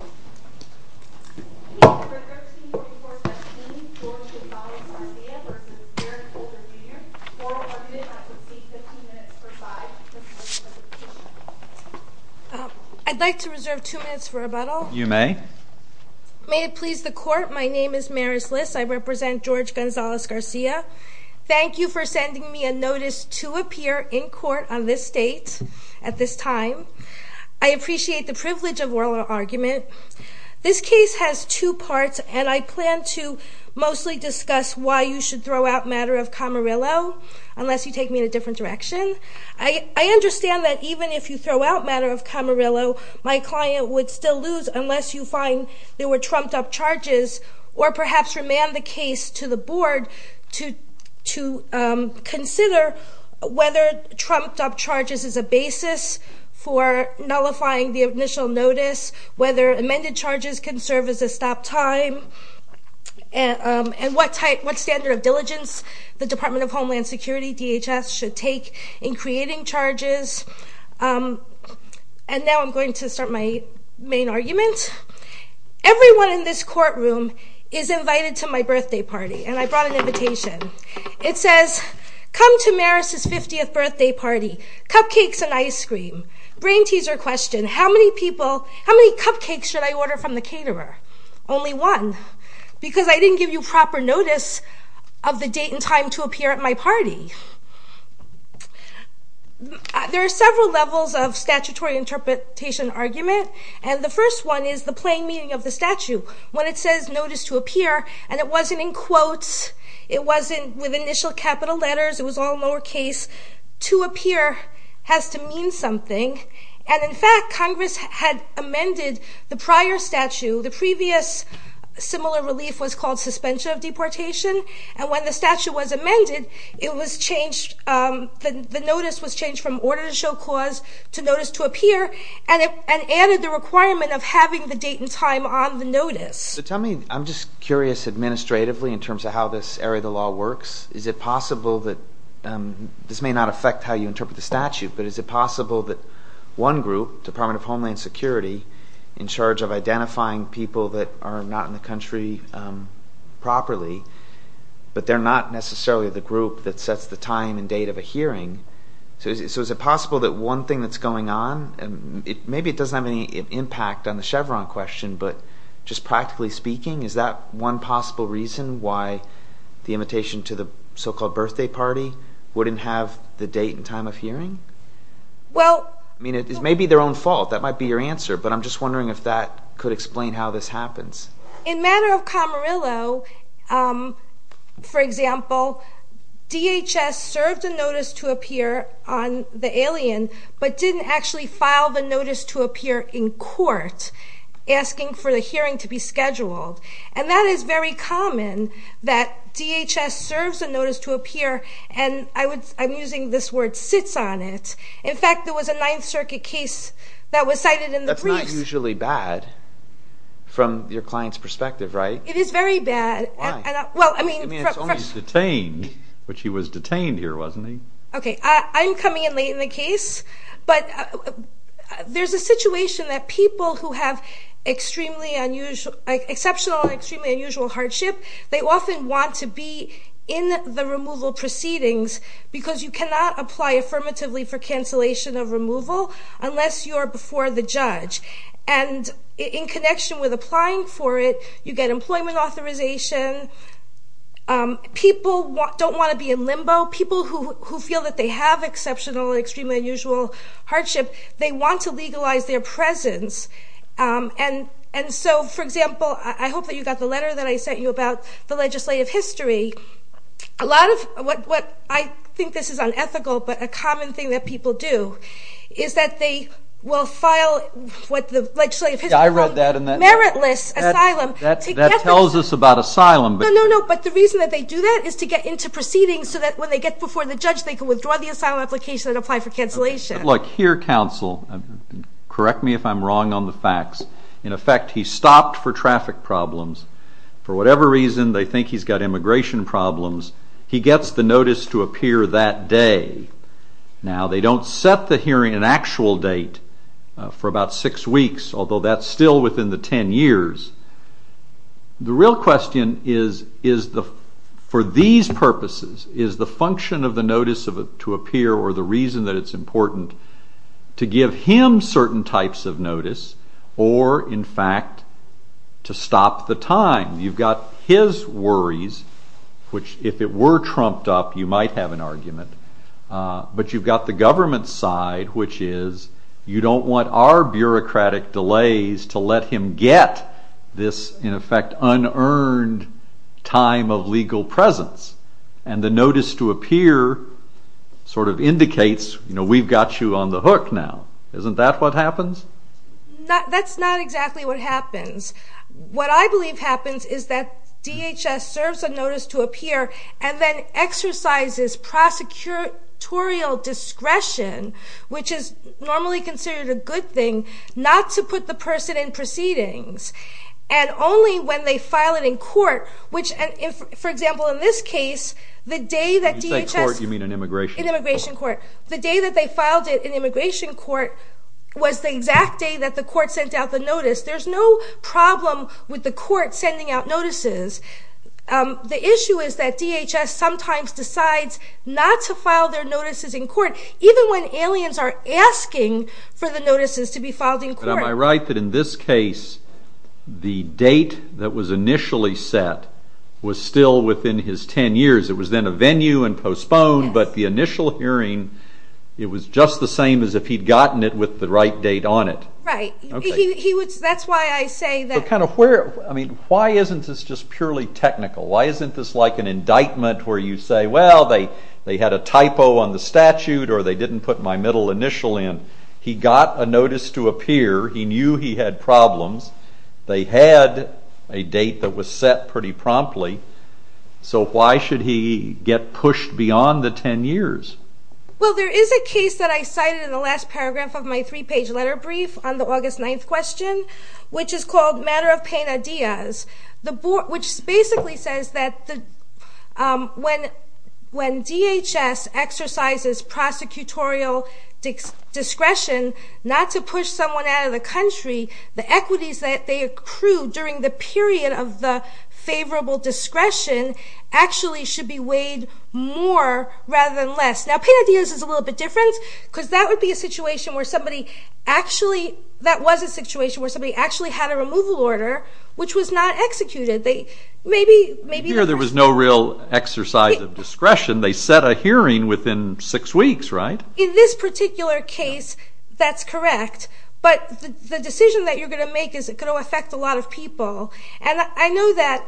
Oral argument at the state 15 minutes per side, Mr. President. I'd like to reserve two minutes for rebuttal. You may. May it please the court, my name is Maris Liss. I represent George Gonzalez-Garcia. Thank you for sending me a notice to appear in court on this date, at this time. I appreciate the privilege of oral argument. This case has two parts, and I plan to mostly discuss why you should throw out matter of Camarillo, unless you take me in a different direction. I understand that even if you throw out matter of Camarillo, my client would still lose unless you find there were trumped up charges, or perhaps remand the case to the board to consider whether trumped up charges is a basis for nullifying the initial notice, whether amended charges can serve as a stop time, and what standard of diligence the Department of Homeland Security, DHS, should take in creating charges. And now I'm going to start my main argument. Everyone in this courtroom is invited to my birthday party, and I brought an invitation. It says, come to Maris's 50th birthday party, cupcakes and ice cream. Brain teaser question, how many people, how many cupcakes should I order from the caterer? Only one, because I didn't give you proper notice of the date and time to appear at my party. There are several levels of statutory interpretation argument, and the first one is the plain meaning of the statute. When it says notice to appear, and it wasn't in quotes, it wasn't with initial capital letters, it was all lower case, to appear has to mean something, and in fact Congress had amended the prior statute, the previous similar relief was called suspension of deportation, and when the statute was amended, it was changed, the notice was changed from order to show cause to notice to appear, and it added the requirement of having the date and time on the notice. So tell me, I'm just curious administratively in terms of how this area of the law works. Is it possible that, this may not affect how you interpret the statute, but is it possible that one group, Department of Homeland Security, in charge of identifying people that are not in the country properly, but they're not necessarily the group that sets the time and date of a hearing, so is it possible that one thing that's going on, maybe it doesn't have any impact on the Chevron question, but just practically speaking, is that one possible reason why the invitation to the so-called birthday party wouldn't have the date and time of hearing? I mean it may be their own fault, that might be your answer, but I'm just wondering if that could explain how this happens. In matter of Camarillo, for example, DHS served a notice to appear on the alien, but didn't actually file the notice to appear in court, asking for the hearing to be scheduled. And that is very common, that DHS serves a notice to appear, and I'm using this word, sits on it. In fact, there was a Ninth Circuit case that was cited in the briefs. That's not usually bad, from your client's perspective, right? It is very bad. Why? I mean it's only detained, which he was detained here, wasn't he? Okay, I'm coming in late in the case, but there's a situation that people who have exceptional and extremely unusual hardship, they often want to be in the removal proceedings because you cannot apply affirmatively for cancellation of removal unless you are before the judge. And in connection with applying for it, you get employment authorization. People don't want to be in limbo. People who feel that they have exceptional and extremely unusual hardship, they want to legalize their presence. And so, for example, I hope that you got the letter that I sent you about the legislative history. A lot of what I think this is unethical, but a common thing that people do, is that they will file what the legislative history calls meritless asylum. That tells us about asylum. No, no, no, but the reason that they do that is to get into proceedings so that when they get before the judge, they can withdraw the asylum application and apply for cancellation. Look, here counsel, correct me if I'm wrong on the facts. In effect, he stopped for traffic problems. For whatever reason, they think he's got immigration problems. He gets the notice to appear that day. Now, they don't set the hearing an actual date for about six weeks, although that's still within the ten years. The real question is, for these purposes, is the function of the notice to appear, or the reason that it's important, to give him certain types of notice or, in fact, to stop the time? You've got his worries, which if it were trumped up, you might have an argument. But you've got the government's side, which is, you don't want our bureaucratic delays to let him get this, in effect, unearned time of legal presence. And the notice to appear sort of indicates, you know, we've got you on the hook now. Isn't that what happens? That's not exactly what happens. What I believe happens is that DHS serves a notice to appear and then exercises prosecutorial discretion, which is normally considered a good thing, not to put the person in proceedings. And only when they file it in court, which, for example, in this case, the day that DHS... When you say court, you mean an immigration court. An immigration court. The day that they filed it in immigration court was the exact day that the court sent out the notice. There's no problem with the court sending out notices. The issue is that DHS sometimes decides not to file their notices in court, even when aliens are asking for the notices to be filed in court. But am I right that in this case, the date that was initially set was still within his 10 years? It was then a venue and postponed, but the initial hearing, it was just the same as if he'd gotten it with the right date on it. Right. That's why I say that... Why isn't this just purely technical? Why isn't this like an indictment where you say, well, they had a typo on the statute or they didn't put my middle initial in. He got a notice to appear. He knew he had problems. They had a date that was set pretty promptly. So why should he get pushed beyond the 10 years? Well, there is a case that I cited in the last paragraph of my three-page letter brief on the August 9th question, which is called Matter of Pena Diaz, which basically says that when DHS exercises prosecutorial discretion not to push someone out of the country, the equities that they accrue during the period of the favorable discretion actually should be weighed more rather than less. Now, Pena Diaz is a little bit different because that would be a situation where somebody actually... That was a situation where somebody actually had a removal order, which was not executed. Maybe... Here there was no real exercise of discretion. They set a hearing within six weeks, right? In this particular case, that's correct. But the decision that you're going to make is going to affect a lot of people. And I know that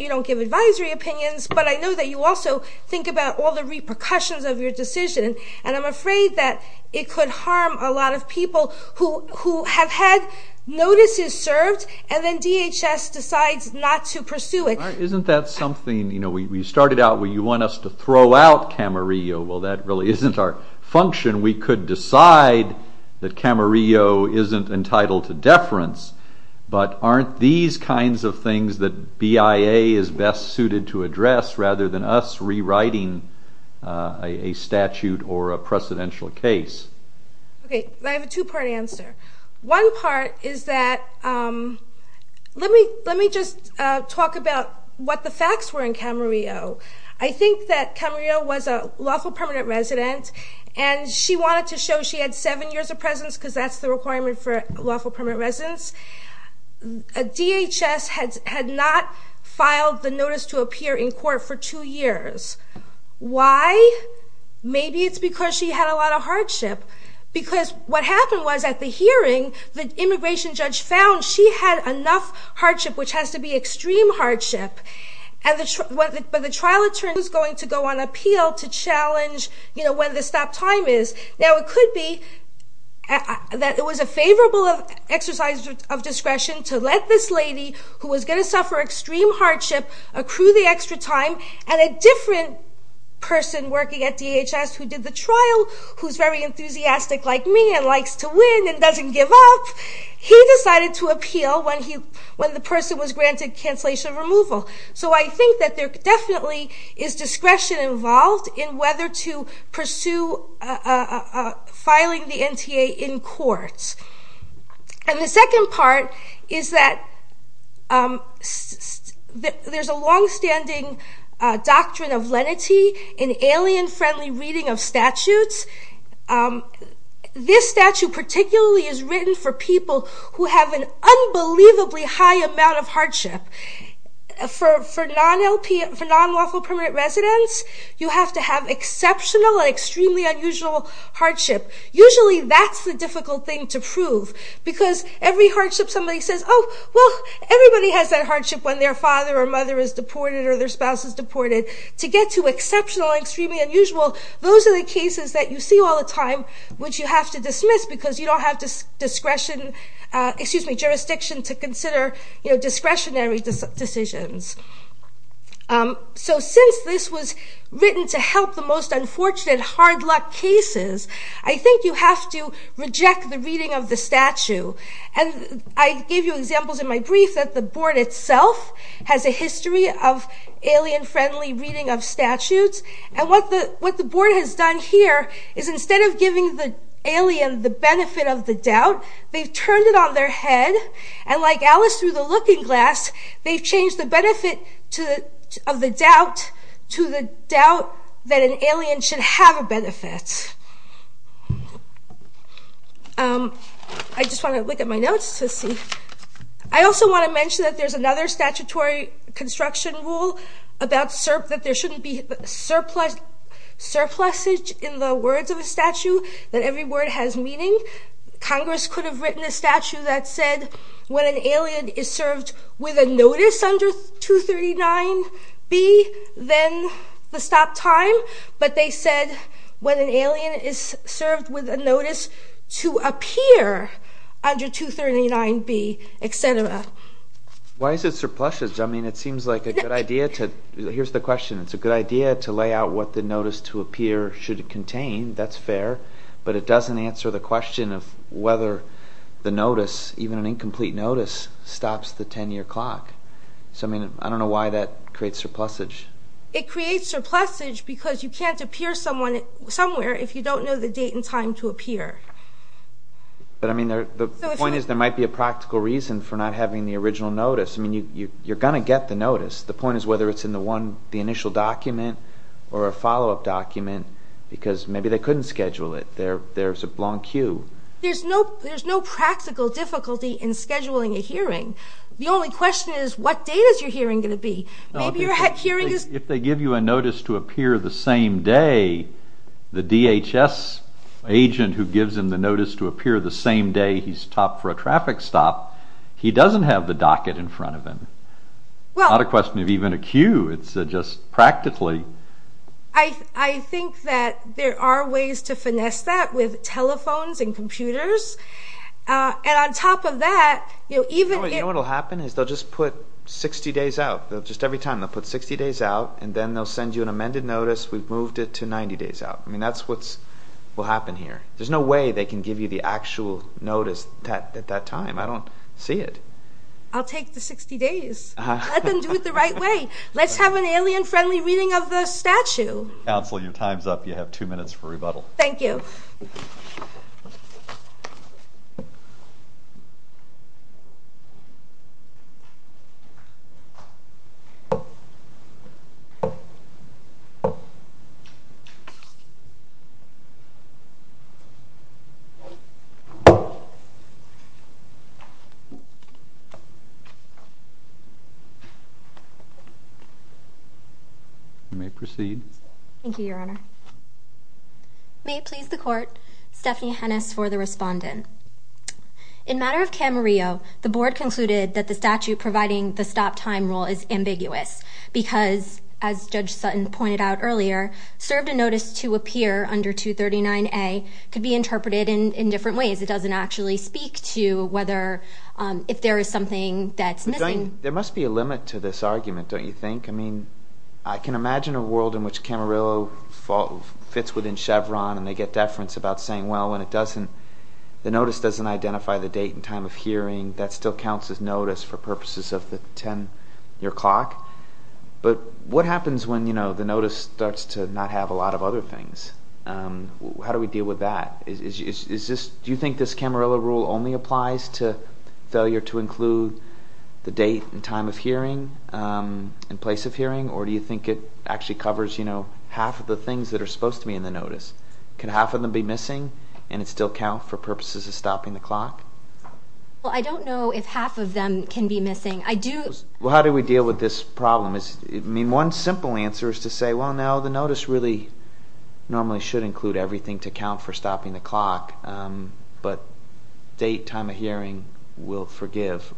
you don't give advisory opinions, but I know that you also think about all the repercussions of your decision, and I'm afraid that it could harm a lot of people who have had notices served, and then DHS decides not to pursue it. Isn't that something... You know, we started out, well, you want us to throw out Camarillo. Well, that really isn't our function. We could decide that Camarillo isn't entitled to deference, but aren't these kinds of things that BIA is best suited to address rather than us rewriting a statute or a precedential case? Okay, I have a two-part answer. One part is that... Let me just talk about what the facts were in Camarillo. I think that Camarillo was a lawful permanent resident, and she wanted to show she had seven years of presence because that's the requirement for lawful permanent residence. DHS had not filed the notice to appear in court for two years. Why? Maybe it's because she had a lot of hardship because what happened was at the hearing, the immigration judge found she had enough hardship, which has to be extreme hardship, but the trial attorney was going to go on appeal to challenge when the stop time is. Now, it could be that it was a favorable exercise of discretion to let this lady, who was going to suffer extreme hardship, accrue the extra time, and a different person working at DHS who did the trial, who's very enthusiastic like me and likes to win and doesn't give up, he decided to appeal when the person was granted cancellation removal. So I think that there definitely is discretion involved in whether to pursue filing the NTA in court. And the second part is that there's a longstanding doctrine of lenity in alien-friendly reading of statutes. This statute particularly is written for people who have an unbelievably high amount of hardship. For non-lawful permanent residents, you have to have exceptional and extremely unusual hardship. Usually that's the difficult thing to prove because every hardship somebody says, oh, well, everybody has that hardship when their father or mother is deported or their spouse is deported. To get to exceptional and extremely unusual, those are the cases that you see all the time, which you have to dismiss because you don't have jurisdiction to consider discretionary decisions. So since this was written to help the most unfortunate hard luck cases, I think you have to reject the reading of the statute. And I gave you examples in my brief that the board itself has a history of alien-friendly reading of statutes. And what the board has done here is instead of giving the alien the benefit of the doubt, they've turned it on their head and like Alice through the looking glass, they've changed the benefit of the doubt to the doubt that an alien should have a benefit. I just want to look at my notes to see. I also want to mention that there's another statutory construction rule that there shouldn't be surplusage in the words of a statute that every word has meaning. Congress could have written a statute that said when an alien is served with a notice under 239B, then the stop time. But they said when an alien is served with a notice to appear under 239B, etc. Why is it surplusage? I mean, it seems like a good idea to... Here's the question. It's a good idea to lay out what the notice to appear should contain. That's fair. But it doesn't answer the question of whether the notice, even an incomplete notice, stops the 10-year clock. So, I mean, I don't know why that creates surplusage. It creates surplusage because you can't appear somewhere if you don't know the date and time to appear. But, I mean, the point is there might be a practical reason for not having the original notice. I mean, you're going to get the notice. The point is whether it's in the initial document or a follow-up document because maybe they couldn't schedule it. There's a long queue. There's no practical difficulty in scheduling a hearing. The only question is what date is your hearing going to be? Maybe your hearing is... If they give you a notice to appear the same day, the DHS agent who gives him the notice to appear the same day he's stopped for a traffic stop, he doesn't have the docket in front of him. It's not a question of even a queue. It's just practically... I think that there are ways to finesse that with telephones and computers. And on top of that... You know what will happen is they'll just put 60 days out. Just every time they'll put 60 days out and then they'll send you an amended notice. We've moved it to 90 days out. I mean, that's what will happen here. There's no way they can give you the actual notice at that time. I don't see it. I'll take the 60 days. Let them do it the right way. Let's have an alien-friendly reading of the statue. Counselor, your time's up. You have 2 minutes for rebuttal. Thank you. You may proceed. Thank you, Your Honor. May it please the Court, Stephanie Hennis for the respondent. In matter of Camarillo, the Board concluded that the statue providing the stop-time rule is ambiguous because, as Judge Sutton pointed out earlier, served a notice to appear under 239A could be interpreted in different ways. It doesn't actually speak to whether... if there is something that's missing. There must be a limit to this argument, don't you think? I mean, I can imagine a world in which Camarillo fits within Chevron and they get deference about saying, well, when the notice doesn't identify the date and time of hearing, that still counts as notice for purposes of the 10-year clock. But what happens when the notice starts to not have a lot of other things? How do we deal with that? Do you think this Camarillo rule only applies to failure to include the date and time of hearing in place of hearing, or do you think it actually covers, you know, half of the things that are supposed to be in the notice? Could half of them be missing and it still count for purposes of stopping the clock? Well, I don't know if half of them can be missing. Well, how do we deal with this problem? I mean, one simple answer is to say, well, no, the notice really normally should include everything to count for stopping the clock, but date, time of hearing will forgive.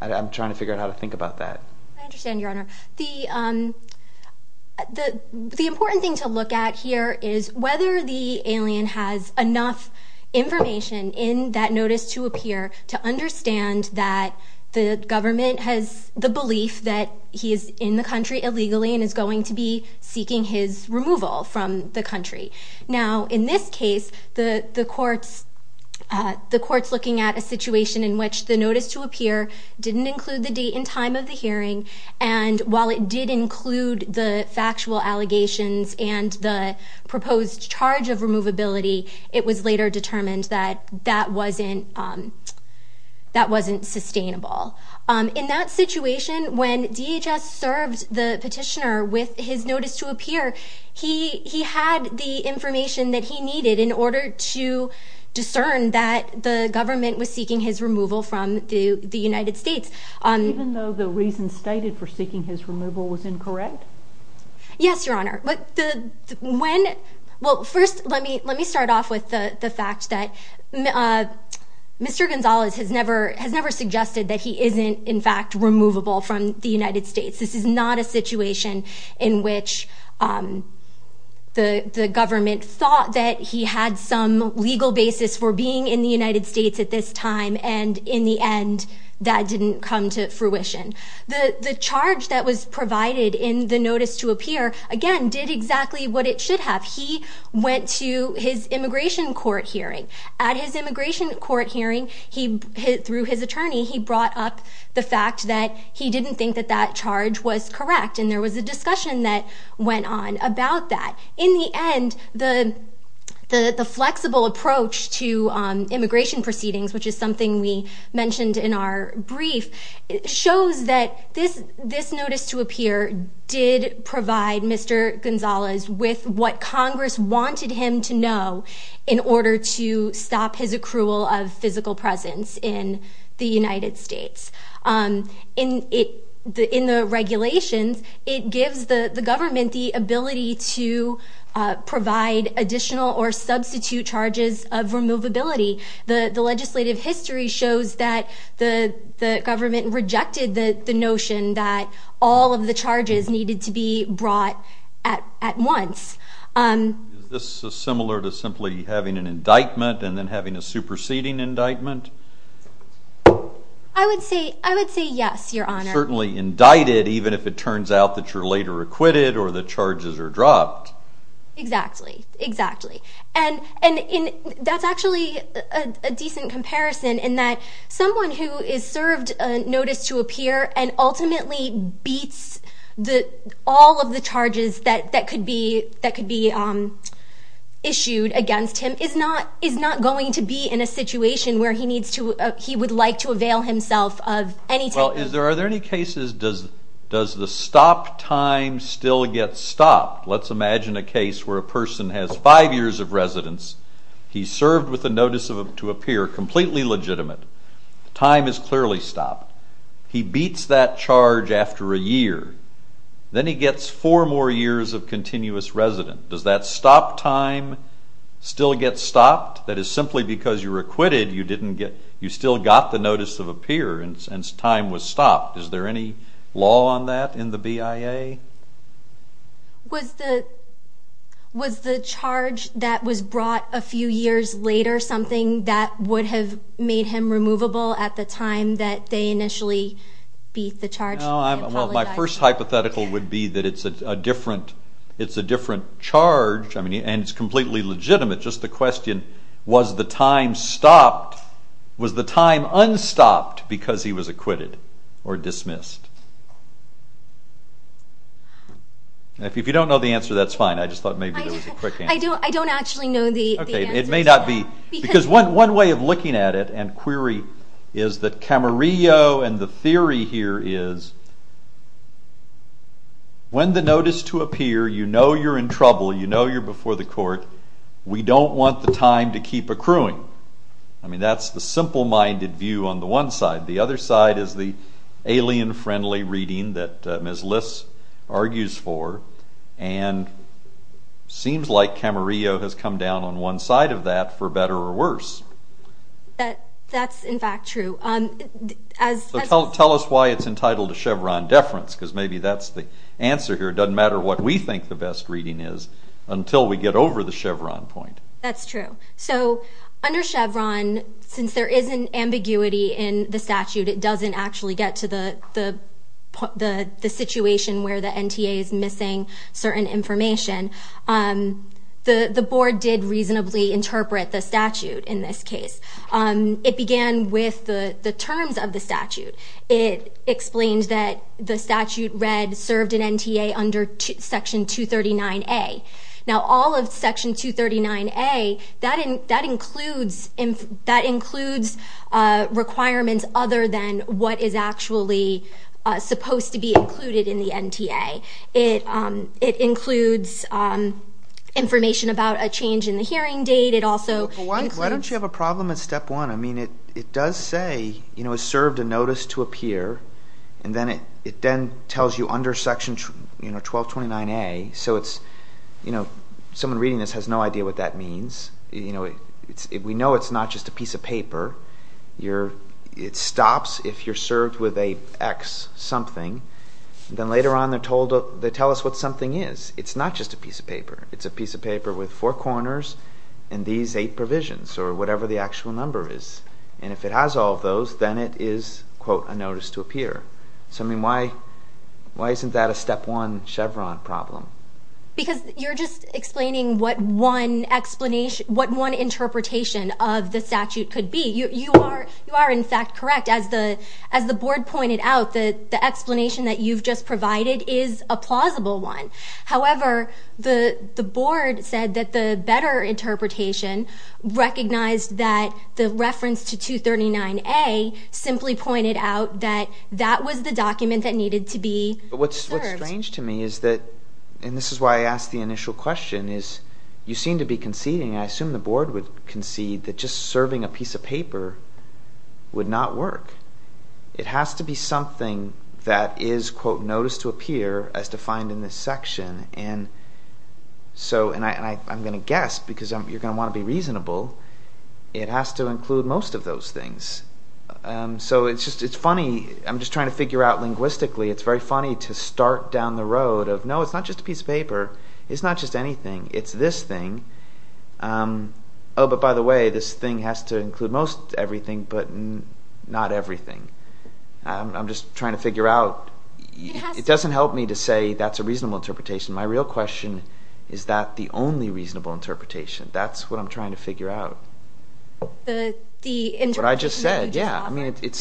I'm trying to figure out how to think about that. I understand, Your Honor. The important thing to look at here is whether the alien has enough information in that notice to appear to understand that the government has the belief that he is in the country illegally and is going to be seeking his removal from the country. Now, in this case, the court's looking at a situation in which the notice to appear didn't include the date and time of the hearing, and while it did include the factual allegations and the proposed charge of removability, it was later determined that that wasn't sustainable. In that situation, when DHS served the petitioner with his notice to appear, it was later determined that the government was seeking his removal from the United States. Even though the reason stated for seeking his removal was incorrect? Yes, Your Honor. Well, first, let me start off with the fact that Mr. Gonzalez has never suggested that he isn't, in fact, removable from the United States. This is not a situation in which the government thought that he had some legal basis for being in the United States at this time, and in the end, that didn't come to fruition. The charge that was provided in the notice to appear, again, did exactly what it should have. He went to his immigration court hearing. At his immigration court hearing, through his attorney, he brought up the fact that he didn't think that that charge was correct, and there was a discussion that went on about that. In the end, the flexible approach to immigration proceedings, which is something we mentioned in our brief, shows that this notice to appear did provide Mr. Gonzalez with what Congress wanted him to know in order to stop his accrual of physical presence in the United States. In the regulations, it gives the government the ability to provide additional or substitute charges of removability. The legislative history shows that the government rejected the notion that all of the charges needed to be brought at once. Is this similar to simply having an indictment and then having a superseding indictment? I would say yes, Your Honor. Certainly indicted, even if it turns out that you're later acquitted or the charges are dropped. Exactly, exactly. And that's actually a decent comparison in that someone who is served a notice to appear and ultimately beats all of the charges that could be issued against him is not going to be in a situation where he would like to avail himself of any type of... Well, are there any cases does the stop time still get stopped? Let's imagine a case where a person has five years of residence. He's served with a notice to appear, completely legitimate. Time is clearly stopped. He beats that charge after a year. Then he gets four more years of continuous residence. Does that stop time still get stopped? That is, simply because you're acquitted, you still got the notice of appearance and time was stopped. Is there any law on that in the BIA? Was the charge that was brought a few years later something that would have made him removable at the time that they initially beat the charge? Well, my first hypothetical would be that it's a different charge and it's completely legitimate. Just the question, was the time stopped, was the time unstopped because he was acquitted or dismissed? If you don't know the answer, that's fine. I just thought maybe there was a quick answer. I don't actually know the answer to that. One way of looking at it and query is that Camarillo and the theory here is when the notice to appear, you know you're in trouble, you know you're before the court, we don't want the time to keep accruing. That's the simple-minded view on the one side. The other side is the alien-friendly reading that Ms. Liss argues for and seems like Camarillo has come down on one side of that for better or worse. That's in fact true. Tell us why it's entitled to Chevron deference because maybe that's the answer here. It doesn't matter what we think the best reading is until we get over the Chevron point. That's true. So under Chevron, since there is an ambiguity in the statute, it doesn't actually get to the situation where the NTA is missing certain information. The board did reasonably interpret the statute in this case. It began with the terms of the statute. It explains that the statute read served an NTA under Section 239A. Now all of Section 239A, that includes requirements other than what is actually supposed to be included in the NTA. It includes information about a change in the hearing date. Why don't you have a problem at step one? I mean it does say it served a notice to appear, and then it then tells you under Section 1229A. Someone reading this has no idea what that means. We know it's not just a piece of paper. It stops if you're served with an X something. Then later on they tell us what something is. It's not just a piece of paper. It's a piece of paper with four corners and these eight provisions, or whatever the actual number is. And if it has all of those, then it is, quote, a notice to appear. Why isn't that a step one Chevron problem? Because you're just explaining what one interpretation of the statute could be. You are, in fact, correct. As the Board pointed out, the explanation that you've just provided is a plausible one. However, the Board said that the better interpretation recognized that the reference to 239A simply pointed out that that was the document that needed to be served. What's strange to me is that, and this is why I asked the initial question, is you seem to be conceding, and I assume the Board would concede, that just serving a piece of paper would not work. It has to be something that is, quote, notice to appear as defined in this section. And I'm going to guess, because you're going to want to be reasonable, it has to include most of those things. So it's funny, I'm just trying to figure out linguistically, it's very funny to start down the road of, no, it's not just a piece of paper, it's not just anything, it's this thing. Oh, but by the way, this thing has to include most everything, but not everything. I'm just trying to figure out, it doesn't help me to say that's a reasonable interpretation. My real question is, is that the only reasonable interpretation? That's what I'm trying to figure out. What I just said, yeah.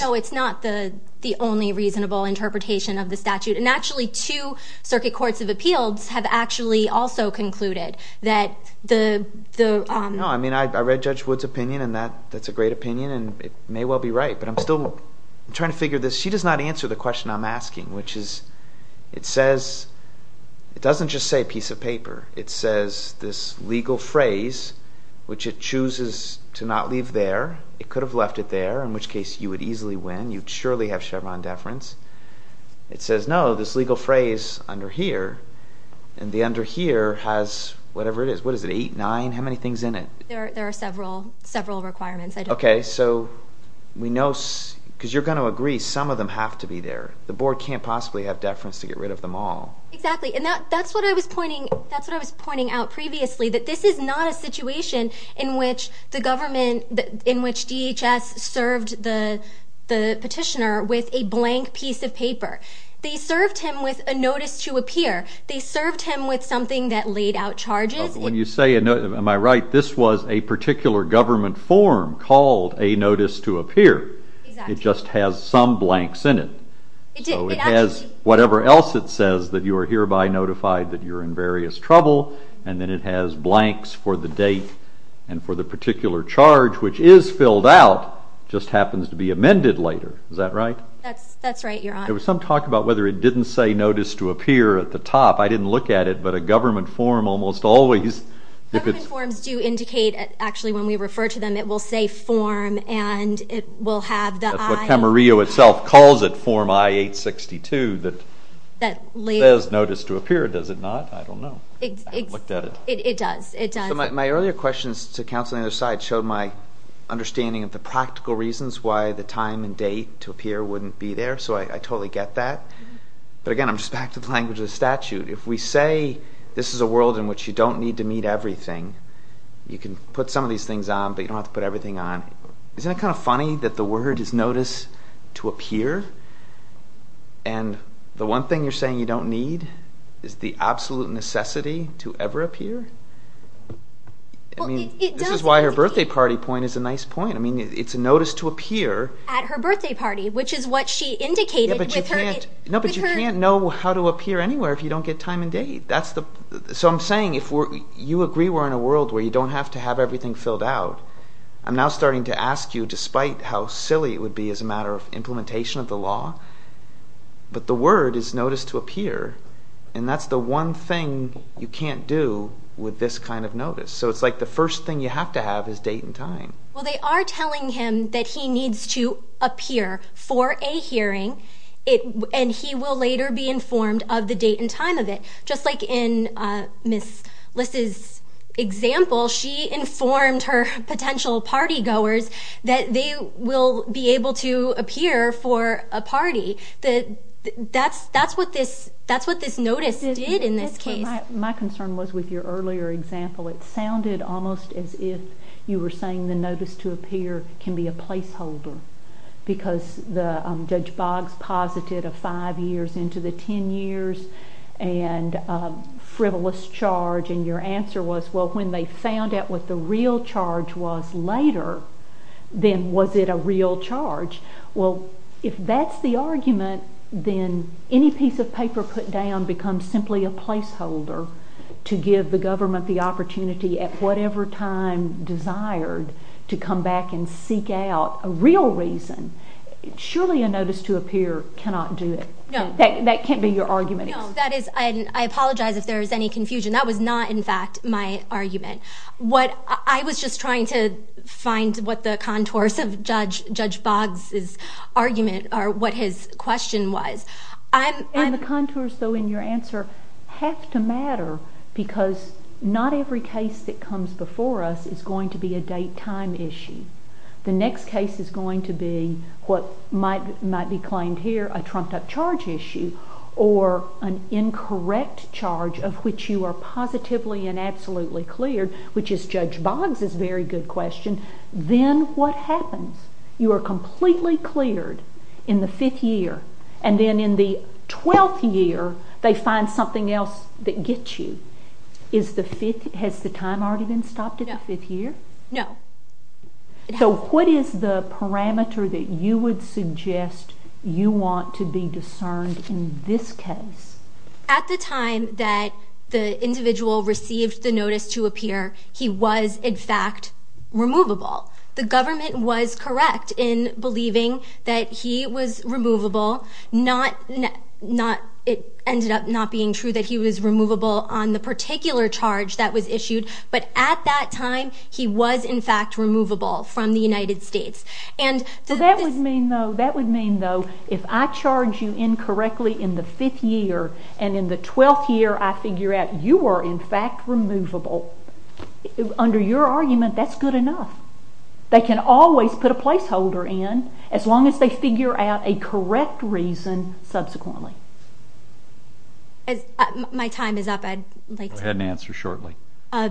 No, it's not the only reasonable interpretation of the statute. And actually two Circuit Courts of Appeals have actually also concluded that the— No, I mean I read Judge Wood's opinion, and that's a great opinion, and it may well be right. But I'm still trying to figure this. She does not answer the question I'm asking, which is, it says, it doesn't just say piece of paper. It says this legal phrase, which it chooses to not leave there. It could have left it there, in which case you would easily win. You'd surely have Chevron deference. It says, no, this legal phrase under here, and the under here has whatever it is. What is it, eight, nine, how many things in it? There are several requirements. Okay, so we know, because you're going to agree, some of them have to be there. The Board can't possibly have deference to get rid of them all. Exactly, and that's what I was pointing out previously, that this is not a situation in which the government, in which DHS served the petitioner with a blank piece of paper. They served him with a notice to appear. They served him with something that laid out charges. When you say a notice, am I right? This was a particular government form called a notice to appear. It just has some blanks in it. So it has whatever else it says that you are hereby notified that you're in various trouble, and then it has blanks for the date and for the particular charge, which is filled out, just happens to be amended later. Is that right? That's right, Your Honor. There was some talk about whether it didn't say notice to appear at the top. I didn't look at it, but a government form almost always. Government forms do indicate, actually, when we refer to them, it will say form, and it will have the I. Camarillo itself calls it form I-862 that says notice to appear. Does it not? I don't know. I haven't looked at it. It does. It does. So my earlier questions to counsel on the other side showed my understanding of the practical reasons why the time and date to appear wouldn't be there, so I totally get that. But again, I'm just back to the language of the statute. If we say this is a world in which you don't need to meet everything, you can put some of these things on, but you don't have to put everything on, isn't it kind of funny that the word is notice to appear, and the one thing you're saying you don't need is the absolute necessity to ever appear? I mean, this is why her birthday party point is a nice point. I mean, it's a notice to appear. At her birthday party, which is what she indicated with her date. Yeah, but you can't know how to appear anywhere if you don't get time and date. So I'm saying if you agree we're in a world where you don't have to have everything filled out, I'm now starting to ask you, despite how silly it would be as a matter of implementation of the law, but the word is notice to appear, and that's the one thing you can't do with this kind of notice. So it's like the first thing you have to have is date and time. Well, they are telling him that he needs to appear for a hearing, and he will later be informed of the date and time of it. Just like in Ms. Liss's example, she informed her potential party goers that they will be able to appear for a party. That's what this notice did in this case. My concern was with your earlier example. It sounded almost as if you were saying the notice to appear can be a placeholder because Judge Boggs posited a five years into the ten years and frivolous charge, and your answer was, well, when they found out what the real charge was later, then was it a real charge? Well, if that's the argument, then any piece of paper put down becomes simply a placeholder to give the government the opportunity at whatever time desired to come back and seek out a real reason. Surely a notice to appear cannot do it. That can't be your argument. I apologize if there is any confusion. That was not, in fact, my argument. I was just trying to find what the contours of Judge Boggs' argument or what his question was. And the contours, though, in your answer have to matter because not every case that comes before us is going to be a date-time issue. The next case is going to be what might be claimed here a trumped-up charge issue or an incorrect charge of which you are positively and absolutely cleared, which is Judge Boggs' very good question. Then what happens? You are completely cleared in the fifth year, and then in the twelfth year they find something else that gets you. Has the time already been stopped at the fifth year? No. So what is the parameter that you would suggest you want to be discerned in this case? At the time that the individual received the notice to appear, he was, in fact, removable. The government was correct in believing that he was removable. It ended up not being true that he was removable on the particular charge that was issued, but at that time he was, in fact, removable from the United States. That would mean, though, if I charge you incorrectly in the fifth year and in the twelfth year I figure out you are, in fact, removable, under your argument that's good enough. They can always put a placeholder in as long as they figure out a correct reason subsequently. My time is up. Go ahead and answer shortly. I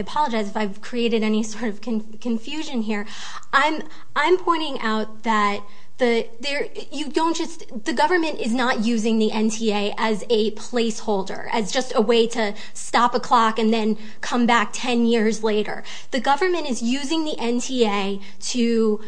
apologize if I've created any sort of confusion here. I'm pointing out that the government is not using the NTA as a placeholder, as just a way to stop a clock and then come back ten years later. The government is using the NTA to,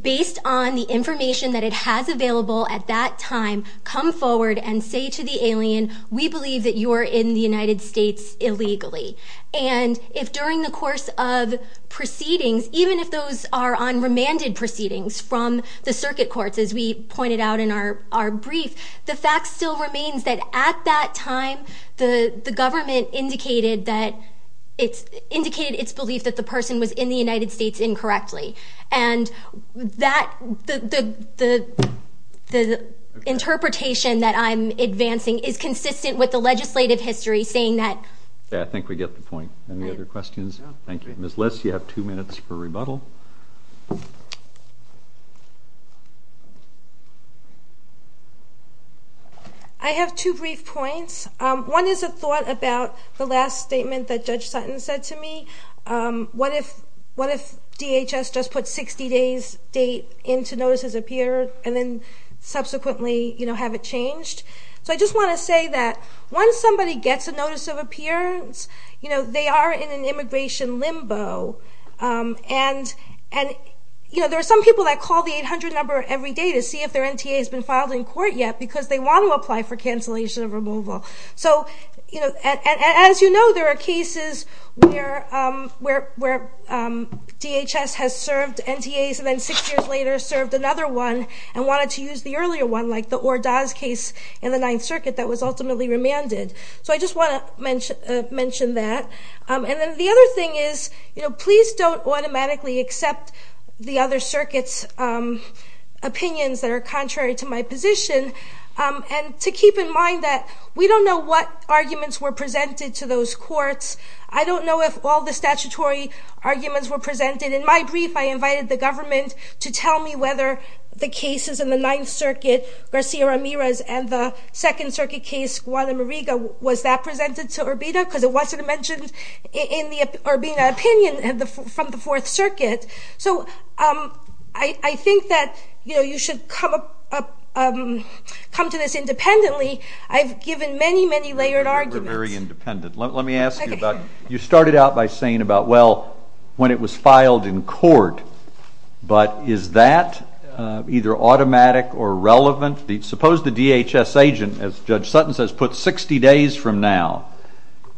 based on the information that it has available at that time, come forward and say to the alien, we believe that you are in the United States illegally. And if during the course of proceedings, even if those are unremanded proceedings from the circuit courts, as we pointed out in our brief, the fact still remains that at that time the government indicated its belief that the person was in the United States incorrectly. And the interpretation that I'm advancing is consistent with the legislative history saying that I think we get the point. Any other questions? Thank you. Ms. Liss, you have two minutes for rebuttal. I have two brief points. One is a thought about the last statement that Judge Sutton said to me. What if DHS just put 60 days' date into notices of peer and then subsequently have it changed? So I just want to say that once somebody gets a notice of appearance, they are in an immigration limbo. And there are some people that call the 800 number every day to see if their NTA has been filed in court yet because they want to apply for cancellation of removal. And as you know, there are cases where DHS has served NTAs and then six years later served another one and wanted to use the earlier one, like the Ordaz case in the Ninth Circuit that was ultimately remanded. So I just want to mention that. And then the other thing is please don't automatically accept the other circuits' opinions that are contrary to my position. And to keep in mind that we don't know what arguments were presented to those courts. I don't know if all the statutory arguments were presented. In my brief, I invited the government to tell me whether the cases in the Ninth Circuit, Garcia-Ramirez and the Second Circuit case, Guadalamiriga, was that presented to Urbina because it wasn't mentioned in the Urbina opinion from the Fourth Circuit. So I think that you should come to this independently. I've given many, many layered arguments. We're very independent. You started out by saying about, well, when it was filed in court, but is that either automatic or relevant? Suppose the DHS agent, as Judge Sutton says, puts 60 days from now.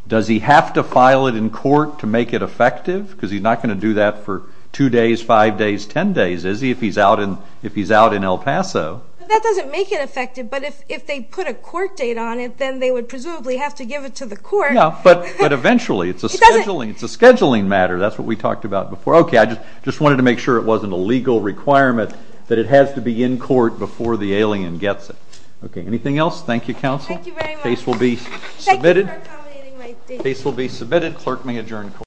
Does he have to file it in court to make it effective? Because he's not going to do that for two days, five days, ten days, is he, if he's out in El Paso. That doesn't make it effective, but if they put a court date on it, then they would presumably have to give it to the court. No, but eventually. It's a scheduling matter. That's what we talked about before. Okay, I just wanted to make sure it wasn't a legal requirement that it has to be in court before the alien gets it. Okay, anything else? Thank you, Counsel. Thank you very much. Thank you for accommodating my date. Case will be submitted. Clerk may adjourn court.